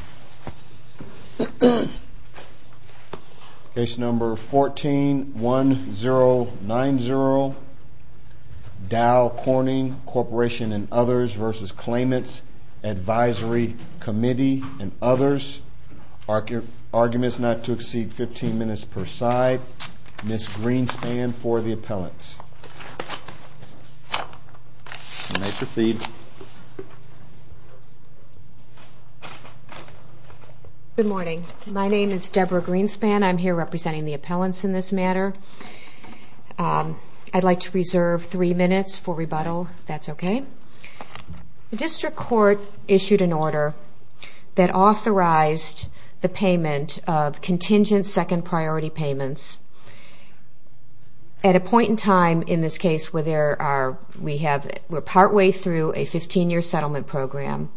and others v. Claimants, Advisory Committee, and others. Arguments not to exceed 15 minutes per side. Ms. Greenspan for the appellants. Make your feed. Good morning. My name is Debra Greenspan. I'm here representing the appellants in this matter. I'd like to reserve 3 minutes for rebuttal, if that's okay. The district court issued an order that authorized the payment of contingent second priority payments at a point in time in this case where we're partway through a 15-year settlement program.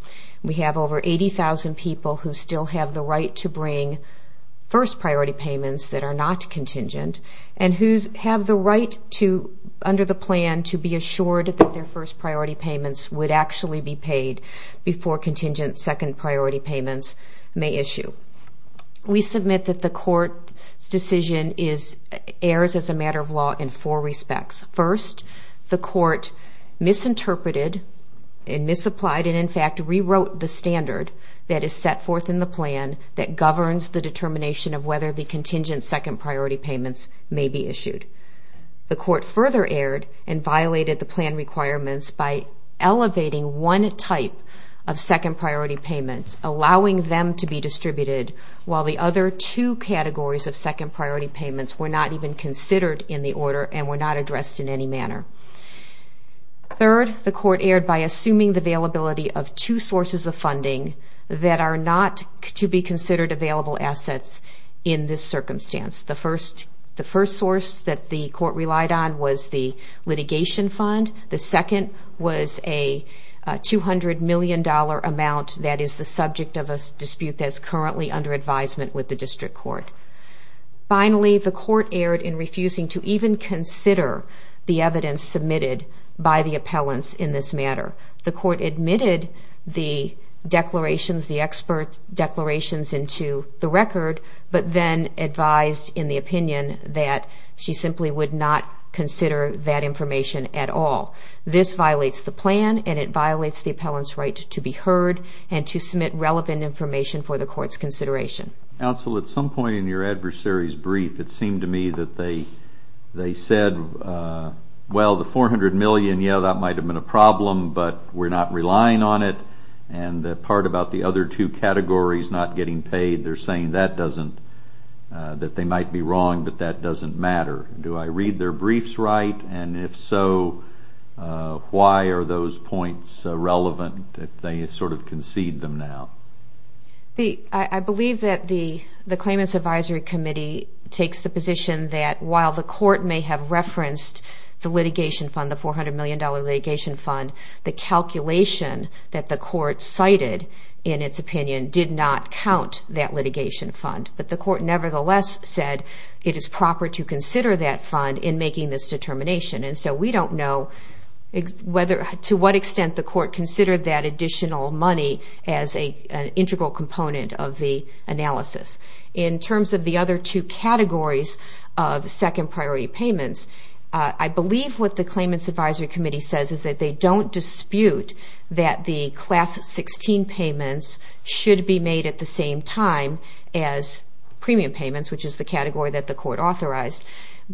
We have over 80,000 people who still have the right to bring first priority payments that are not contingent and who have the right under the plan to be assured that their first priority payments would actually be paid before contingent second priority payments may issue. We submit that the court's decision errs as a matter of law in four respects. First, the court misinterpreted and misapplied and in fact rewrote the standard that is set forth in the plan that governs the determination of whether the contingent second priority payments may be issued. The court further erred and violated the plan requirements by elevating one type of second priority payments, allowing them to be distributed while the other two categories of second priority payments were not even considered in the plan. Third, the court erred by assuming the availability of two sources of funding that are not to be considered available assets in this circumstance. The first source that the court relied on was the litigation fund. The second was a $200 million amount that is the subject of a dispute that is currently under advisement with the district court. Finally, the court erred in refusing to even consider the evidence submitted by the appellants in this matter. The court admitted the declarations, the expert declarations into the record, but then advised in the opinion that she simply would not consider that information at all. This violates the plan and it violates the appellant's right to be heard and to submit relevant information for the court's consideration. Counsel, at some point in your adversary's brief, it seemed to me that they said, well, the $400 million, yeah, that might have been a problem, but we're not relying on it and the part about the other two categories not getting paid, they're saying that doesn't, that they might be wrong, but that doesn't matter. Do I read their briefs right? And if so, why are those points relevant if they sort of concede them now? I believe that the claimants' advisory committee takes the position that while the court may have referenced the litigation fund, the $400 million litigation fund, the calculation that the court cited in its opinion did not count that litigation fund, but the court nevertheless said it is proper to consider that fund in making this determination, and so we don't know whether, to what extent the court considered that additional money as an integral component of the other two categories of second priority payments. I believe what the claimants' advisory committee says is that they don't dispute that the Class 16 payments should be made at the same time as premium payments, which is the category that the court authorized,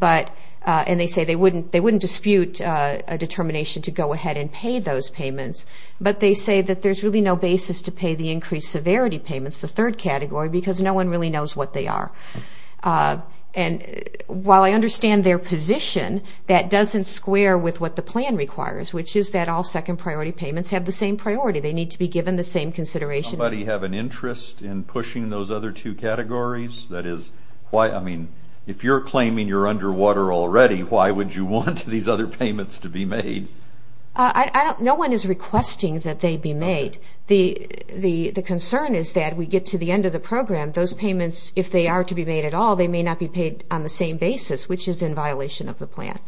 and they say they wouldn't dispute a determination to go ahead and pay those payments, but they say that there's really no basis to pay the increased severity payments, the third category, because no one really knows what they are. While I understand their position, that doesn't square with what the plan requires, which is that all second priority payments have the same priority. They need to be given the same consideration. Does somebody have an interest in pushing those other two categories? If you're claiming you're underwater already, why would you want these other payments to be made? No one is requesting that they be made. The program, those payments, if they are to be made at all, they may not be paid on the same basis, which is in violation of the plan.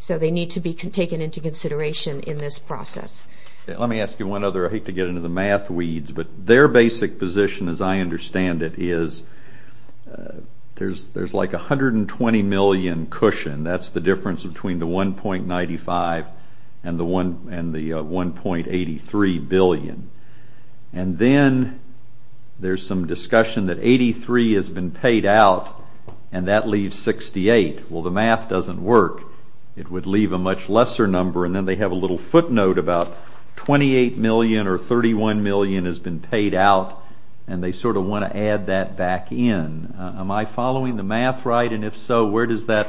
So they need to be taken into consideration in this process. Let me ask you one other, I hate to get into the math weeds, but their basic position, as I understand it, is there's like 120 million cushion. That's the difference between the 1.95 and the 1.83 billion. And then there's some discussion that 83 has been paid out and that leaves 68. Well, the math doesn't work. It would leave a much lesser number, and then they have a little footnote about 28 million or 31 million has been paid out, and they sort of want to add that back in. Am I following the math right? And if so, where does that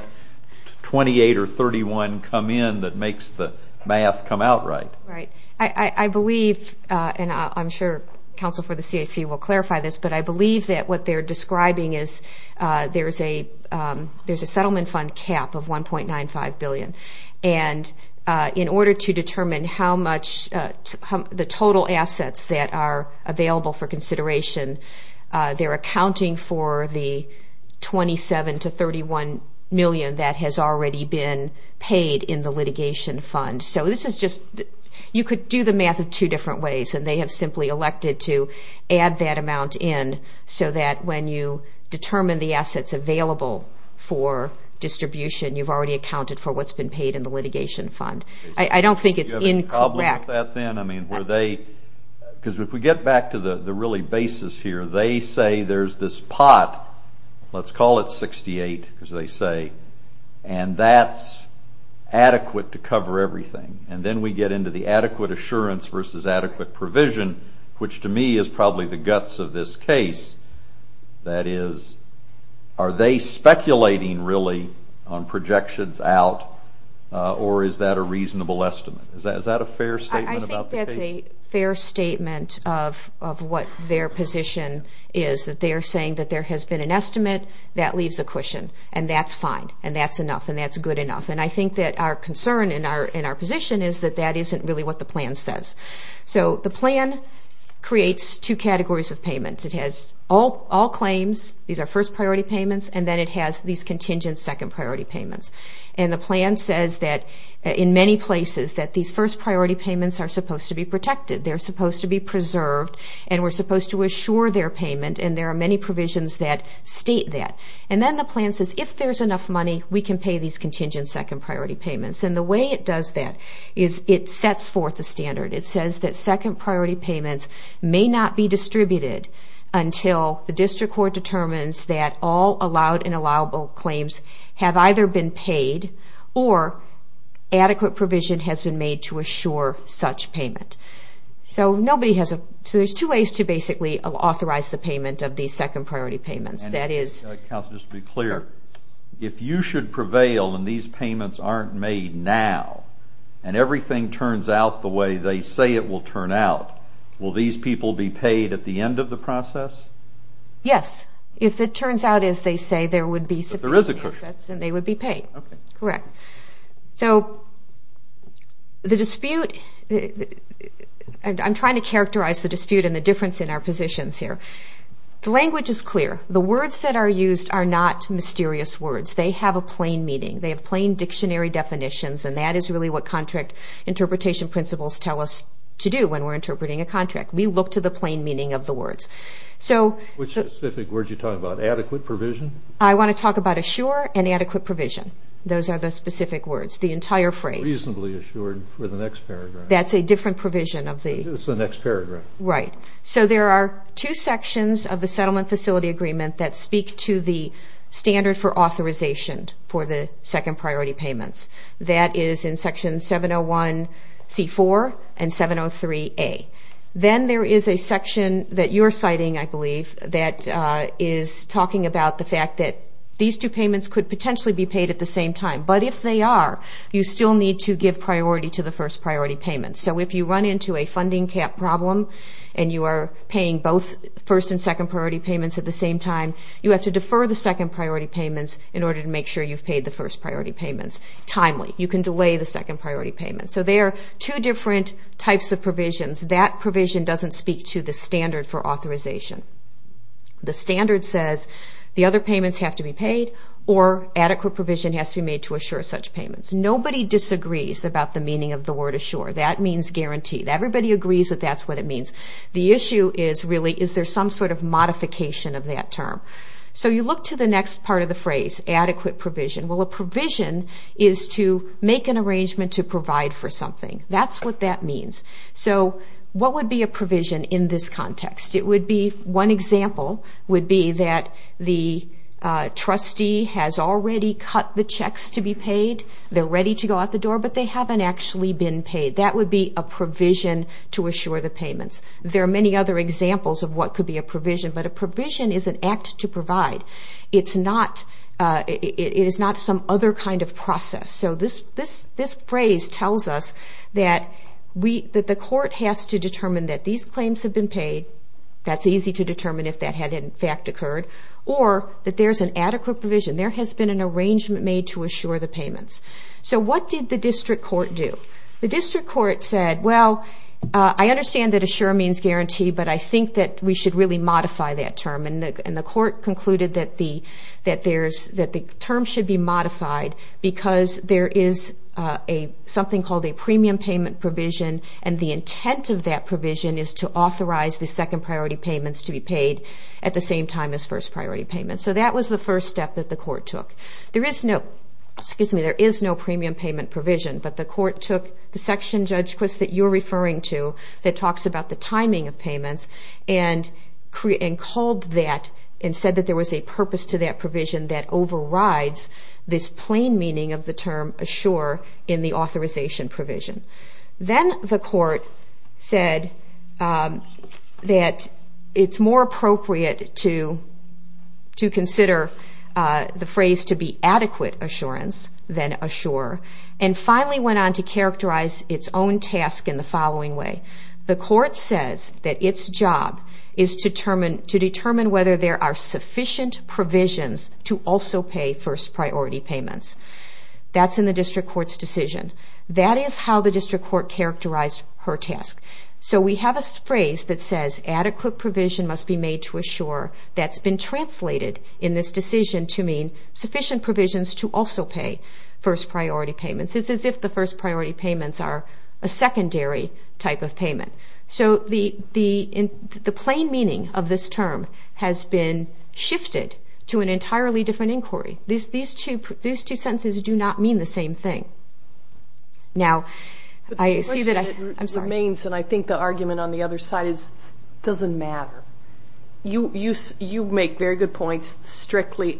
28 or 31 come in that makes the math come out right? I believe, and I'm sure counsel for the CAC will clarify this, but I believe that what they're describing is there's a settlement fund cap of 1.95 billion. And in order to determine how much the total assets that are available for consideration, they're accounting for the 27 to 31 million that has already been paid in the litigation fund. So this is just, you could do the math in two different ways, and they have simply elected to add that amount in so that when you determine the assets available for distribution, you've already accounted for what's been paid in the litigation fund. I don't think it's incorrect. Because if we get back to the really basis here, they say there's this pot, let's call it 68, as they say, and that's going to cover everything. And then we get into the adequate assurance versus adequate provision, which to me is probably the guts of this case. That is, are they speculating really on projections out, or is that a reasonable estimate? Is that a fair statement? I think that's a fair statement of what their position is, that they're saying that there has been an estimate, that leaves a cushion, and that's fine, and that's enough, and that's our concern and our position is that that isn't really what the plan says. So the plan creates two categories of payments. It has all claims, these are first priority payments, and then it has these contingent second priority payments. And the plan says that in many places that these first priority payments are supposed to be protected, they're supposed to be preserved, and we're supposed to assure their payment, and there are many provisions that state that. And then the plan says if there's enough money, we can pay these contingent second priority payments. And the way it does that is it sets forth the standard. It says that second priority payments may not be distributed until the district court determines that all allowed and allowable claims have either been paid or adequate provision has been made to assure such payment. So there's two ways to basically authorize the payment of these second priority payments. And counsel, just to be clear, if you should prevail and these payments aren't made now, and everything turns out the way they say it will turn out, will these people be paid at the end of the process? Yes, if it turns out as they say there would be sufficient assets and they would be paid. So the dispute and I'm trying to characterize the dispute and the difference in our positions here. The language is clear. The words that are used are not mysterious words. They have a plain meaning. They have plain dictionary definitions, and that is really what contract interpretation principles tell us to do when we're interpreting a contract. We look to the plain meaning of the words. Which specific words are you talking about? Adequate provision? I want to talk about assure and adequate provision. Those are the specific words. The entire phrase. Reasonably assured for the next paragraph. That's a different provision of the... It's the next paragraph. Right. So there are two sections of the settlement facility agreement that speak to the standard for authorization for the second priority payments. That is in section 701 C4 and 703A. Then there is a section that you're citing, I believe, that is talking about the fact that these two payments could potentially be paid at the same time. But if they are, you still need to give priority to the first priority payment. So if you run into a funding cap problem and you are paying both first and second priority payments at the same time, you have to defer the second priority payments in order to make sure you've paid the first priority payments timely. You can delay the second priority payments. So there are two different types of provisions. That provision doesn't speak to the standard for authorization. The standard says the other payments have to be paid or adequate provision has to be made to assure such payments. Nobody disagrees about the T. Everybody agrees that that's what it means. The issue is really is there some sort of modification of that term. So you look to the next part of the phrase adequate provision. Well, a provision is to make an arrangement to provide for something. That's what that means. So what would be a provision in this context? One example would be that the trustee has already cut the checks to be paid. They're ready to go out the door, but they haven't actually been paid. That would be a provision to assure the payments. There are many other examples of what could be a provision, but a provision is an act to provide. It's not some other kind of process. So this phrase tells us that the court has to determine that these claims have been paid. That's easy to determine if that had in fact occurred, or that there's an adequate provision. There has been an arrangement made to assure the payments. So what did the district court do? The district court said, well, I understand that assure means guarantee, but I think that we should really modify that term. And the court concluded that the term should be modified because there is something called a premium payment provision, and the intent of that provision is to authorize the second priority payments to be paid at the same time as first priority payments. So that was the first step that the court took. There is no premium payment provision, but the court took the section, Judge Quist, that you're referring to that talks about the timing of payments, and called that and said that there was a purpose to that provision that overrides this plain meaning of the term assure in the authorization provision. Then the court said that it's more appropriate to consider the phrase to be adequate assurance than assure, and finally went on to characterize its own task in the following way. The court says that its job is to determine whether there are sufficient provisions to also pay first priority payments. That's in the district court's decision. That is how the district court characterized her task. So we have a phrase that says adequate provision must be made to assure that's been translated in this decision to mean sufficient provisions to also pay first priority payments. It's as if the first priority payments are a secondary type of payment. So the plain meaning of this term has been shifted to an entirely different inquiry. These two sentences do not mean the same thing. The question remains, and I think the argument on the other side is it doesn't matter. You make very good points. Strictly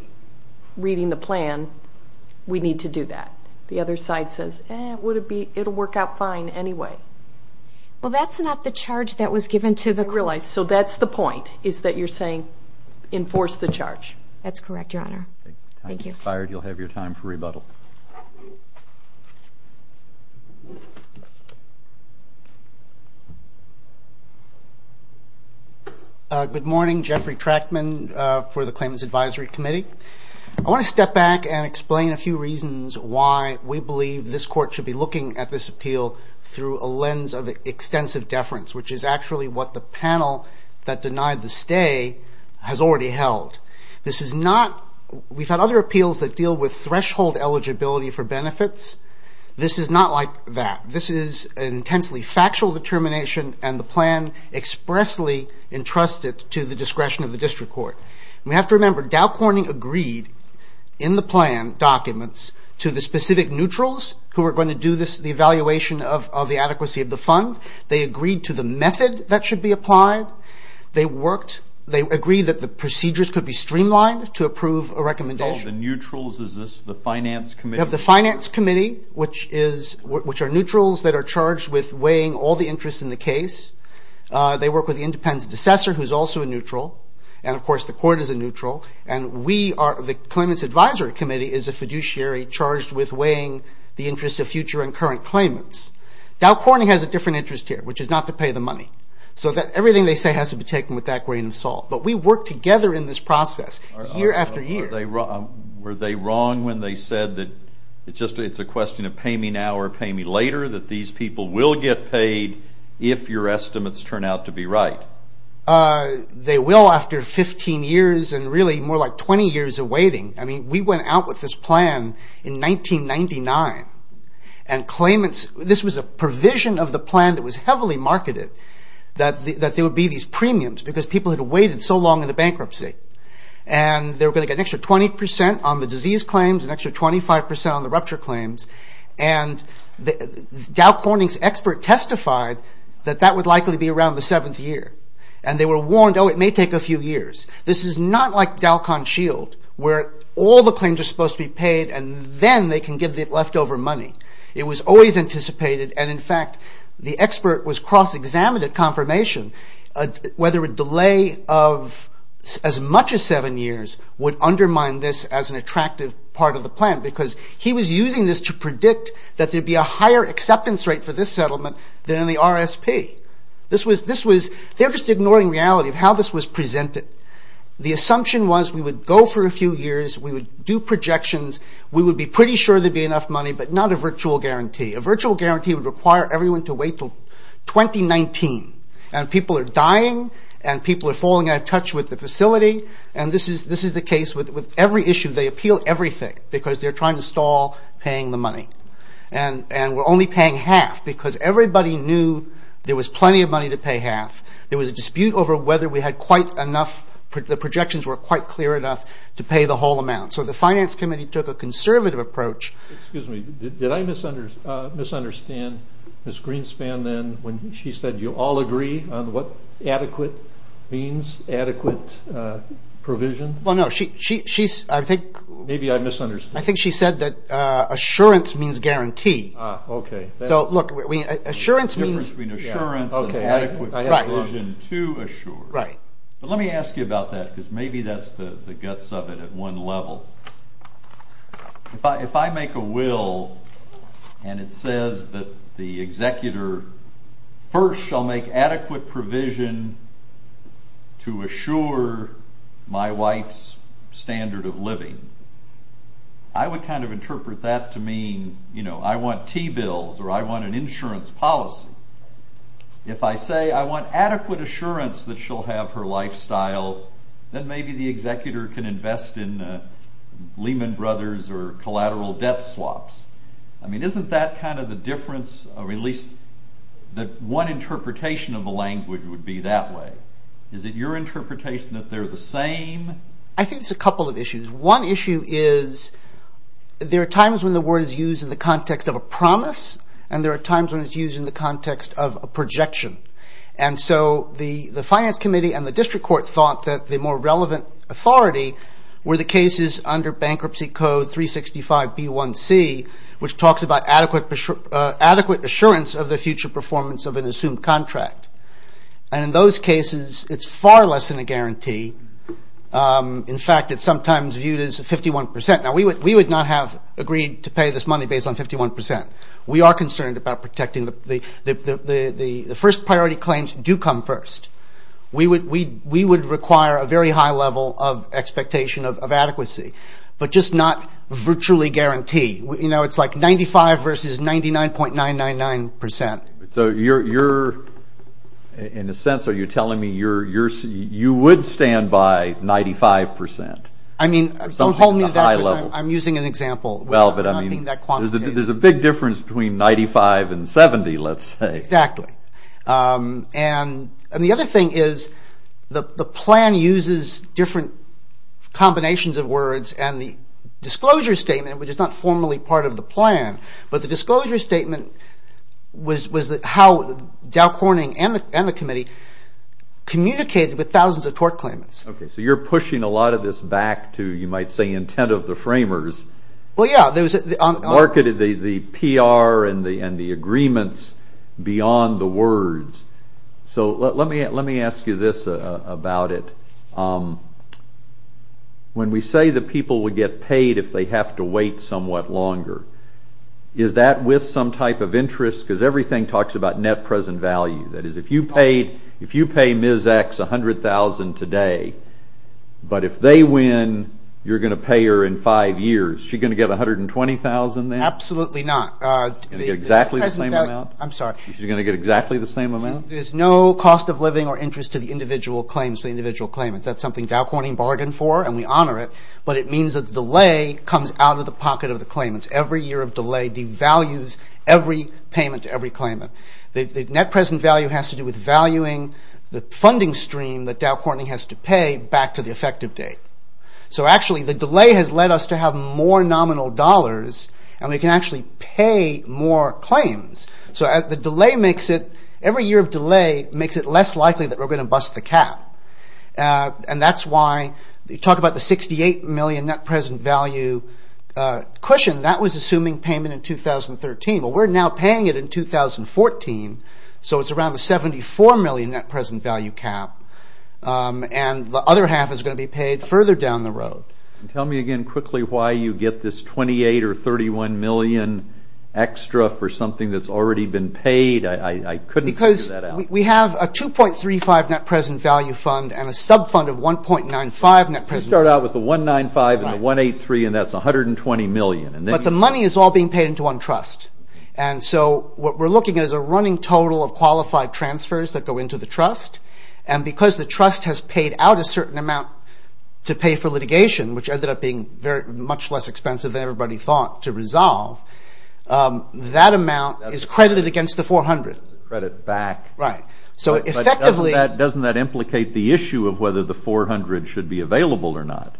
reading the plan, we need to do that. The other side says, eh, it'll work out fine anyway. Well, that's not the charge that was given to the court. I realize. So that's the point, is that you're saying enforce the charge. That's correct, Your Honor. Thank you. If you're fired, you'll have your time for rebuttal. Good morning. Jeffrey Trackman for the Claimants Advisory Committee. I want to step back and explain a few reasons why we believe this court should be looking at this appeal through a lens of extensive deference, which is actually what the panel that denied the stay has already held. This is not, we've had other appeals that deal with threshold eligibility for benefits. This is not like that. This is intensely factual determination and the plan expressly entrusted to the discretion of the district court. We have to remember Dow Corning agreed in the plan documents to the specific neutrals who are going to do the evaluation of the adequacy of the fund. They agreed to the method that should be applied. They agreed that the procedures could be streamlined to approve a recommendation. You called the neutrals? Is this the finance committee? You have the finance committee, which are neutrals that are charged with weighing all the interest in the case. They work with the independent assessor, who is also a neutral. And of course the court is a neutral. And we are, the Claimants Advisory Committee is a fiduciary charged with weighing the interest of future and current claimants. Dow Corning has a different interest here, which is not to pay the money. So everything they say has to be taken with that grain of salt. But we work together in this process year after year. Were they wrong when they said that it's just a question of pay me now or pay me later, that these people will get paid if your estimates turn out to be right? They will after 15 years and really more like 20 years of waiting. I mean, we went out with this plan in 1999. And claimants, this was a provision of the plan that was heavily marketed, that there would be these premiums because people had waited so long in the bankruptcy. And they were going to get an extra 20% on the disease claims, an extra 25% on the rupture claims. And Dow Corning's expert testified that that would likely be around the seventh year. And they were warned, oh, it may take a few years. This is not like Dow ConShield, where all the claims are supposed to be paid and then they can give the leftover money. It was always anticipated. And in fact, the expert was cross-examined at confirmation whether a delay of as much as seven years would undermine this as an attractive part of the plan. Because he was using this to predict that there'd be a higher acceptance rate for this settlement than in the RSP. They're just ignoring reality of how this was presented. The assumption was we would go for a few years, we would do projections, we would be pretty sure there'd be enough money, but not a virtual guarantee. A virtual guarantee would require everyone to wait until 2019. And people are dying. And people are falling out of touch with the facility. And this is the case with every issue. They appeal everything because they're trying to stall paying the money. And we're only paying half because everybody knew there was plenty of money to pay half. There was a dispute over whether we had quite enough the projections were quite clear enough to pay the whole amount. So the Finance Committee took a conservative approach. Excuse me, did I misunderstand Ms. Greenspan then when she said you all agree on what adequate means? Adequate provision? Maybe I misunderstood. I think she said that assurance means guarantee. So look, assurance means difference between assurance and adequate provision to assure. But let me ask you about that because maybe that's the guts of it at one level. If I make a will and it says that the executor first shall make to assure my wife's standard of living, I would kind of interpret that to mean I want T-bills or I want an insurance policy. If I say I want adequate assurance that she'll have her lifestyle, then maybe the executor can invest in Lehman Brothers or collateral debt swaps. I mean isn't that kind of the difference, or at least the one interpretation of the language would be that way. Is it your interpretation that they're the same? I think it's a couple of issues. One issue is there are times when the word is used in the context of a promise and there are times when it's used in the context of a projection. And so the Finance Committee and the District Court thought that the more relevant authority were the cases under Bankruptcy Code 365 B1C which talks about adequate assurance of the future performance of an assumed contract. And in those cases, it's far less than a guarantee. In fact, it's sometimes viewed as 51%. Now we would not have agreed to pay this money based on 51%. We are concerned about protecting the first priority claims do come first. We would require a very high level of expectation of adequacy, but just not virtually guarantee. It's like 95 versus 99.999%. So you're, in a sense, are you telling me you would stand by 95%? I mean, don't hold me to that because I'm using an example. There's a big difference between 95 and 70, let's say. Exactly. And the other thing is the plan uses different combinations of words and the disclosure statement, which is not formally part of the plan, but the disclosure statement was how Dow Corning and the committee communicated with thousands of tort claimants. So you're pushing a lot of this back to, you might say, intent of the framers. Well, yeah. Marketed the PR and the agreements beyond the words. So let me ask you this about it. When we say that people would get paid if they have to wait somewhat longer, is that with some type of interest? Because everything talks about net present value. That is, if you pay Ms. X $100,000 today, but if they win, you're going to pay her in five years. Is she going to get $120,000 then? Absolutely not. Is she going to get exactly the same amount? I'm sorry. Is she going to get exactly the same amount? There's no cost of living or interest to the individual claims, the individual claimants. That's something Dow Corning bargained for and we honor it, but it means that the delay comes out of the pocket of the claimants. Every year of delay devalues every payment to every claimant. The net present value has to do with valuing the funding stream that Dow Corning has to pay back to the effective date. So actually, the delay has led us to have more nominal dollars and we can actually pay more claims. So the delay makes it, every year of delay makes it less likely that we're going to bust the cap. And that's why, you talk about the net present value cushion, that was assuming payment in 2013. Well, we're now paying it in 2014, so it's around the $74 million net present value cap. And the other half is going to be paid further down the road. Tell me again quickly why you get this $28 or $31 million extra for something that's already been paid. I couldn't figure that out. Because we have a $2.35 net present value fund and a sub fund of $1.95 net present value. Let's just start out with the $1.95 and the $1.83 and that's $120 million. But the money is all being paid into one trust. And so what we're looking at is a running total of qualified transfers that go into the trust. And because the trust has paid out a certain amount to pay for litigation, which ended up being much less expensive than everybody thought to resolve, that amount is credited against the $400. Credit back. But doesn't that implicate the issue of whether the $400 should be available or not?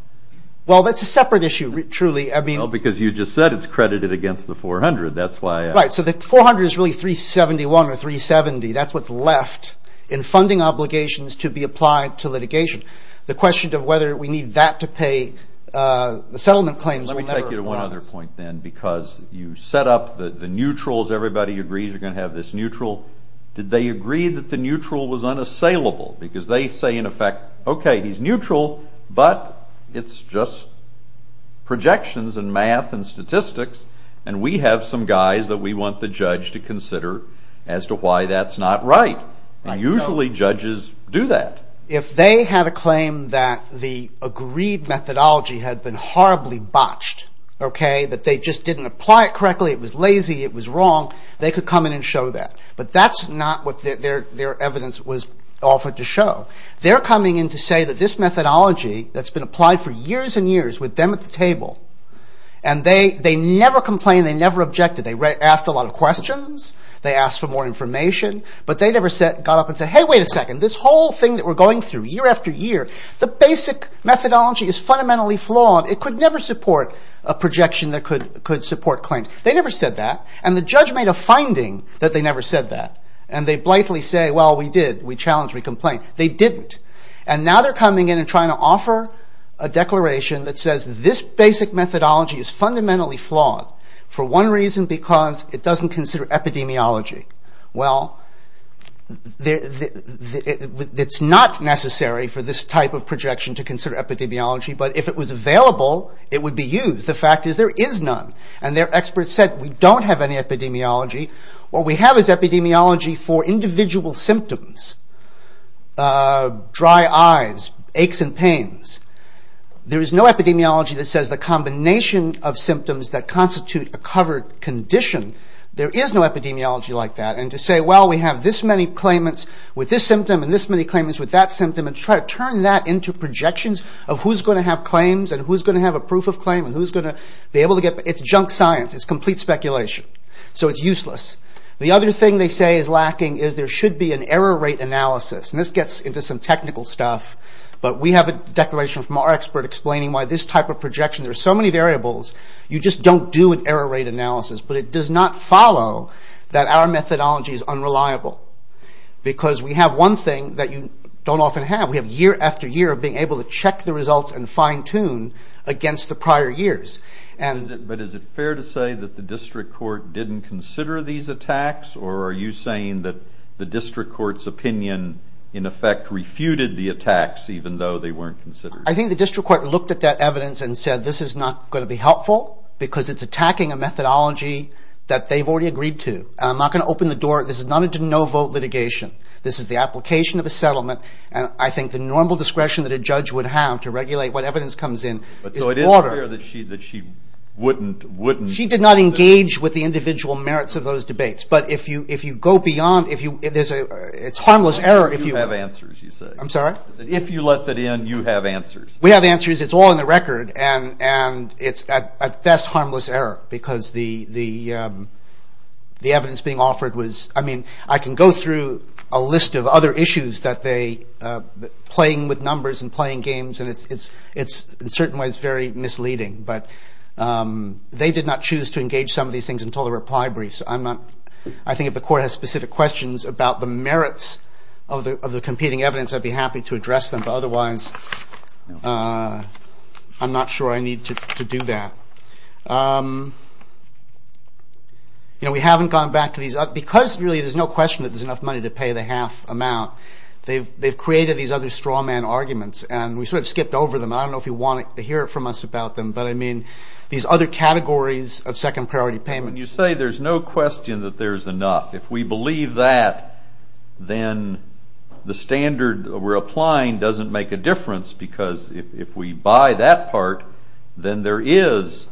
Well, that's a separate issue, truly. Well, because you just said it's credited against the $400. Right. So the $400 is really $371 or $370. That's what's left in funding obligations to be applied to litigation. The question of whether we need that to pay the settlement claims will never arise. Let me take you to one other point, then, because you set up the neutrals. Everybody agrees you're going to have this neutral. Did they agree that the neutral was unassailable? Because they say, in effect, okay, he's neutral, but it's just projections and math and statistics and we have some guys that we want the judge to consider as to why that's not right. And usually judges do that. If they had a claim that the agreed methodology had been horribly botched, okay, that they just didn't apply it correctly, it was lazy, it was wrong, they could come in and show that. But that's not what their evidence was offered to show. They're coming in to say that this methodology that's been applied for years and years with them at the table and they never complained, they never objected. They asked a lot of questions. They asked for more information. But they never got up and said, hey, wait a second, this whole thing that we're going through year after year, the basic methodology is fundamentally flawed. It could never support a projection that could support claims. They never said that. And the judge made a finding that they never said that. And they blithely say, well, we did, we challenged, we complained. They didn't. And now they're coming in and trying to offer a declaration that says this basic methodology is fundamentally flawed for one reason, because it doesn't consider epidemiology. Well, it's not necessary for this type of projection to consider epidemiology, but if it was available it would be used. The fact is there is none. And their experts said we don't have any epidemiology. What we have is epidemiology for individual symptoms. Dry eyes, aches and pains. There is no epidemiology that says the combination of symptoms that constitute a covered condition. There is no epidemiology like that. And to say, well, we have this many claimants with this symptom and this many claimants with that symptom, and try to turn that into projections of who's going to have claims and who's going to have a proof of claim and who's going to be able to get, it's junk science. It's complete speculation. So it's useless. The other thing they say is lacking is there should be an error rate analysis. And this gets into some technical stuff. But we have a declaration from our expert explaining why this type of projection, there's so many variables, you just don't do an error rate analysis. But it does not follow that our methodology is unreliable. Because we have one thing that you don't often have. We have year after year of being able to check the results and fine tune against the prior years. But is it fair to say that the district court didn't consider these attacks? Or are you saying that the district court's opinion in effect refuted the attacks even though they weren't considered? I think the district court looked at that evidence and said this is not going to be helpful because it's attacking a methodology that they've already agreed to. And I'm not going to open the door. This is not a no vote litigation. This is the application of a settlement. And I think the normal discretion that a judge would have to regulate what evidence comes in is broader. She did not engage with the individual merits of those debates. But if you go beyond, it's harmless error. If you let that in, you have answers. We have answers. It's all in the record. And it's at best harmless error. Because the evidence being offered was I mean, I can go through a list of other issues that they played with numbers and playing games. And in certain ways it's very misleading. But they did not choose to engage some of these things until the reply brief. I think if the court has specific questions about the merits of the competing evidence, I'd be happy to address them. But otherwise, I'm not sure I need to do that. We haven't gone back to these. Because really there's no question that there's enough money to pay the half amount. They've created these other straw man arguments. And we sort of skipped over them. I don't know if you want to hear from us about them. But I mean, these other categories of second priority payments. You say there's no question that there's enough. If we believe that, then the standard we're applying doesn't make a difference. Because if we buy that part, then there is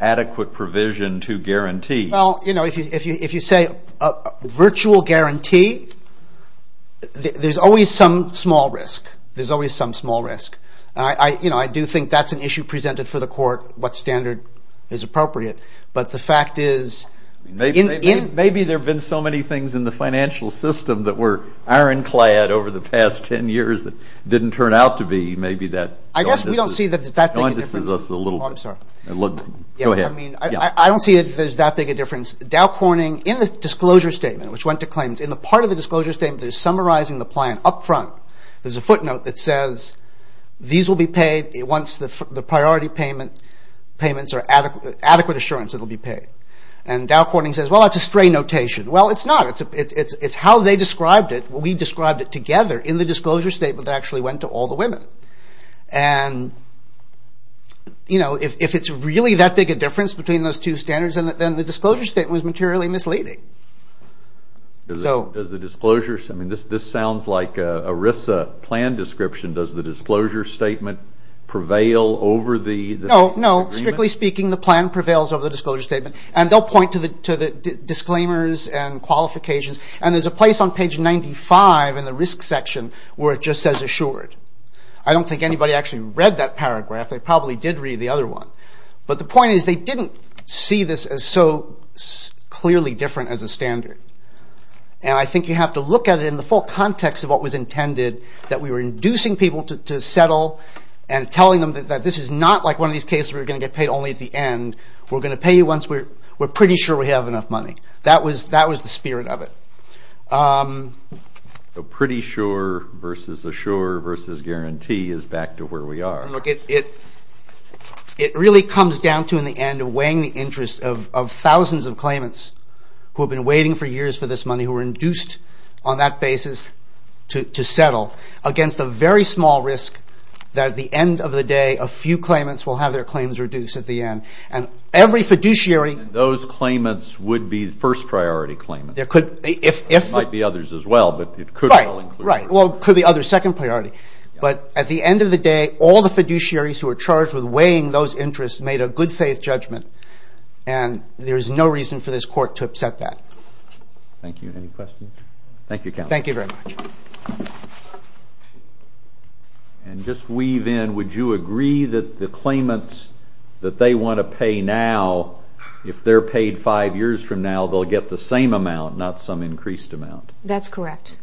adequate provision to guarantee. Well, if you say virtual guarantee, there's always some small risk. I do think that's an issue presented for the court. What standard is appropriate? Maybe there have been so many things in the financial system that were ironclad over the past ten years that didn't turn out to be. I don't see that there's that big a difference. Dow Corning, in the disclosure statement, which went to claims, in the part of the disclosure statement that is summarizing the plan up front, there's a footnote that says these will be paid once the priority payments are adequate assurance it will be paid. And Dow Corning says, well, that's a stray notation. Well, it's not. It's how they described it. We described it. And, you know, if it's really that big a difference between those two standards, then the disclosure statement was materially misleading. This sounds like a RISA plan description. Does the disclosure statement prevail over the agreement? No, no. Strictly speaking, the plan prevails over the disclosure statement. And they'll point to the disclaimers and qualifications. And there's a place on page 95 in the risk section where it just says assured. I don't think anybody actually read that paragraph. They probably did read the other one. But the point is they didn't see this as so clearly different as a standard. And I think you have to look at it in the full context of what was intended, that we were inducing people to settle and telling them that this is not like one of these cases where you're going to get paid only at the end. We're going to pay you once we're pretty sure we have enough money. That was the spirit of it. So pretty sure versus assure versus guarantee is back to where we are. It really comes down to in the end weighing the interest of thousands of claimants who have been waiting for years for this money, who were induced on that basis to settle against a very small risk that at the end of the day a few claimants will have their claims reduced at the end. And every fiduciary... And those claimants would be first priority claimants. There might be others as well, but it could well include... Right. Well, could be others. Second priority. But at the end of the day, all the fiduciaries who are charged with weighing those interests made a good faith judgment and there's no reason for this court to upset that. Thank you. Any questions? Thank you, Counsel. Thank you very much. And just weave in, would you agree that the claimants that they want to pay now, if they're paid 25 years from now, they'll get the same amount, not some increased amount? That's correct.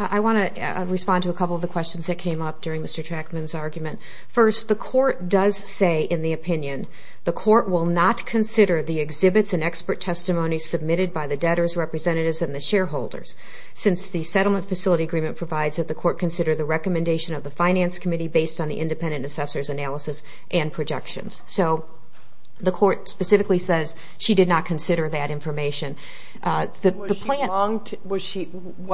I want to respond to a couple of the questions that came up during Mr. Trachman's argument. First, the court does say in the opinion, the court will not consider the exhibits and expert testimony submitted by the debtors, representatives, and the shareholders, since the settlement facility agreement provides that the court consider the recommendation of the finance committee based on the independent assessor's analysis and projections. So the court specifically says she did not consider that information. Why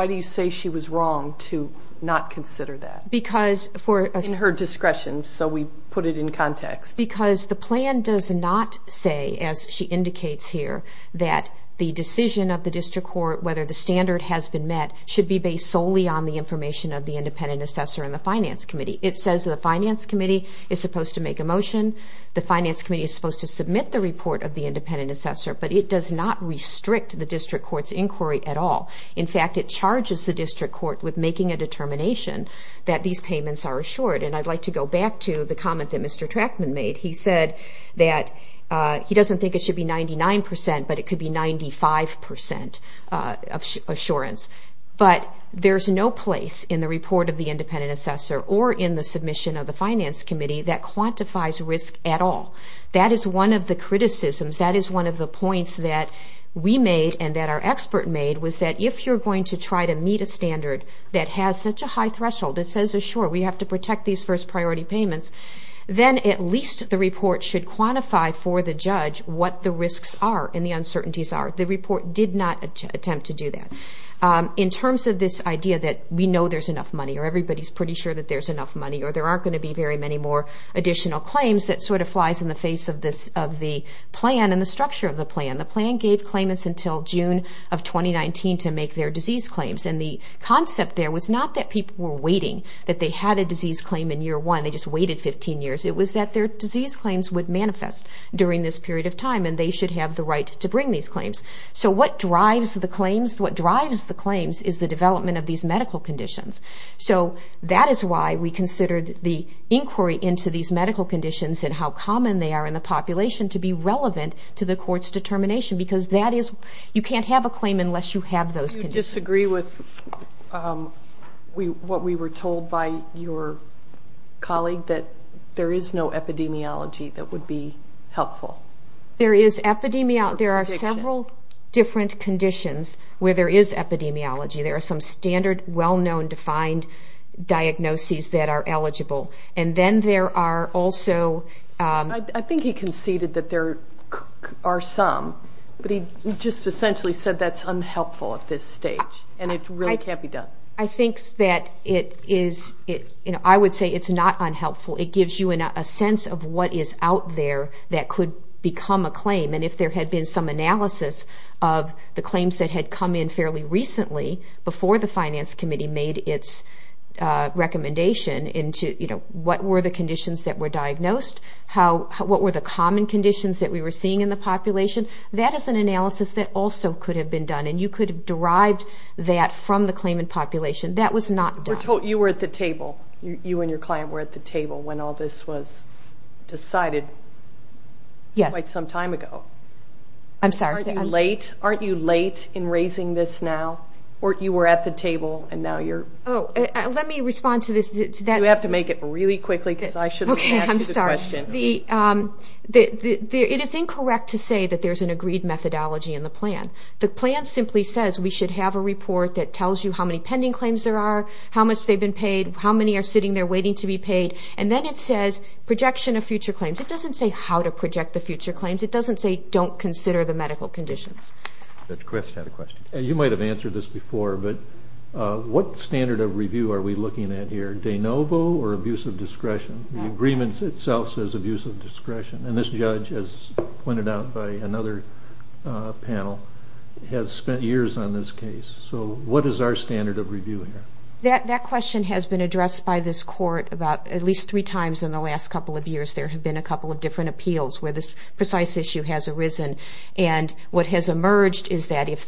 do you say she was wrong to not consider that? In her discretion, so we put it in context. Because the plan does not say, as she indicates here, that the decision of the district court, whether the standard has been met, should be based solely on the information of the independent assessor and the finance committee. It says the finance committee is supposed to submit the report of the independent assessor, but it does not restrict the district court's inquiry at all. In fact, it charges the district court with making a determination that these payments are assured. And I'd like to go back to the comment that Mr. Trachman made. He said that he doesn't think it should be 99%, but it could be 95% assurance. But there's no place in the report of the independent assessor or in the submission of the finance committee that that is one of the criticisms, that is one of the points that we made and that our expert made, was that if you're going to try to meet a standard that has such a high threshold, it says assured, we have to protect these first priority payments, then at least the report should quantify for the judge what the risks are and the uncertainties are. The report did not attempt to do that. In terms of this idea that we know there's enough money, or everybody's pretty sure that there's enough money, or there aren't going to be very many more additional claims, that sort of flies in the face of the plan and the structure of the plan. The plan gave claimants until June of 2019 to make their disease claims. And the concept there was not that people were waiting, that they had a disease claim in year one, they just waited 15 years. It was that their disease claims would manifest during this period of time, and they should have the right to bring these claims. So what drives the claims? What drives the claims is the development of these medical conditions. So that is why we want these medical conditions and how common they are in the population to be relevant to the court's determination, because you can't have a claim unless you have those conditions. Do you disagree with what we were told by your colleague, that there is no epidemiology that would be helpful? There are several different conditions where there is epidemiology. There are some standard, well-known, defined diagnoses that are eligible. And then there are also... I think he conceded that there are some, but he just essentially said that's unhelpful at this stage, and it really can't be done. I think that it is, I would say it's not unhelpful. It gives you a sense of what is out there that could become a claim. And if there had been some analysis of the claims that had come in fairly recently, before the Finance Committee made its recommendation into what were the conditions that were diagnosed, what were the common conditions that we were seeing in the population, that is an analysis that also could have been done, and you could have derived that from the claimant population. That was not done. You and your client were at the table when all this was decided quite some time ago. Aren't you late in raising this now? You were at the table, and now you're... You have to make it really quickly, because I shouldn't have asked the question. It is incorrect to say that there's an agreed methodology in the plan. The plan simply says we should have a report that tells you how many pending claims there are, how much they've been paid, how many are sitting there waiting to be paid, and then it says projection of future claims. It doesn't say how to project the future claims. It doesn't say don't consider the medical conditions. You might have answered this before, but what standard of review are we looking at here? De novo or abusive discretion? The agreement itself says abusive discretion, and this judge, as pointed out by another panel, has spent years on this case. So what is our standard of review here? That question has been addressed by this court about at least three times in the last couple of years. There have been a couple of different appeals where this precise issue has emerged, is that if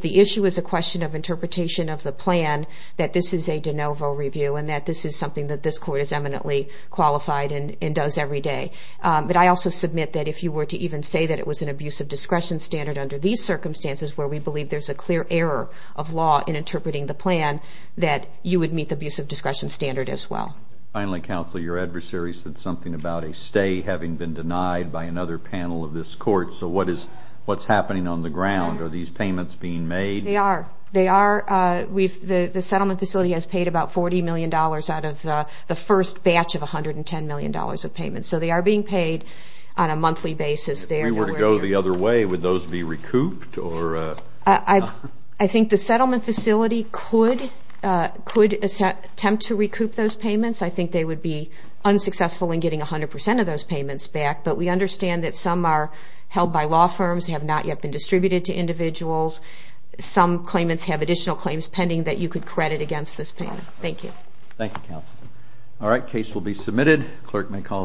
the issue is a question of interpretation of the plan, that this is a de novo review, and that this is something that this court is eminently qualified and does every day. But I also submit that if you were to even say that it was an abusive discretion standard under these circumstances where we believe there's a clear error of law in interpreting the plan, that you would meet the abusive discretion standard as well. Finally, counsel, your adversary said something about a stay having been denied by another panel of this on the ground. Are these payments being made? They are. The settlement facility has paid about $40 million out of the first batch of $110 million of payments. So they are being paid on a monthly basis. If we were to go the other way, would those be recouped? I think the settlement facility could attempt to recoup those payments. I think they would be unsuccessful in getting 100 percent of those payments back. But we understand that some are not yet been distributed to individuals. Some claimants have additional claims pending that you could credit against this plan. Thank you. Thank you, counsel. All right. Case will be submitted. Clerk may call the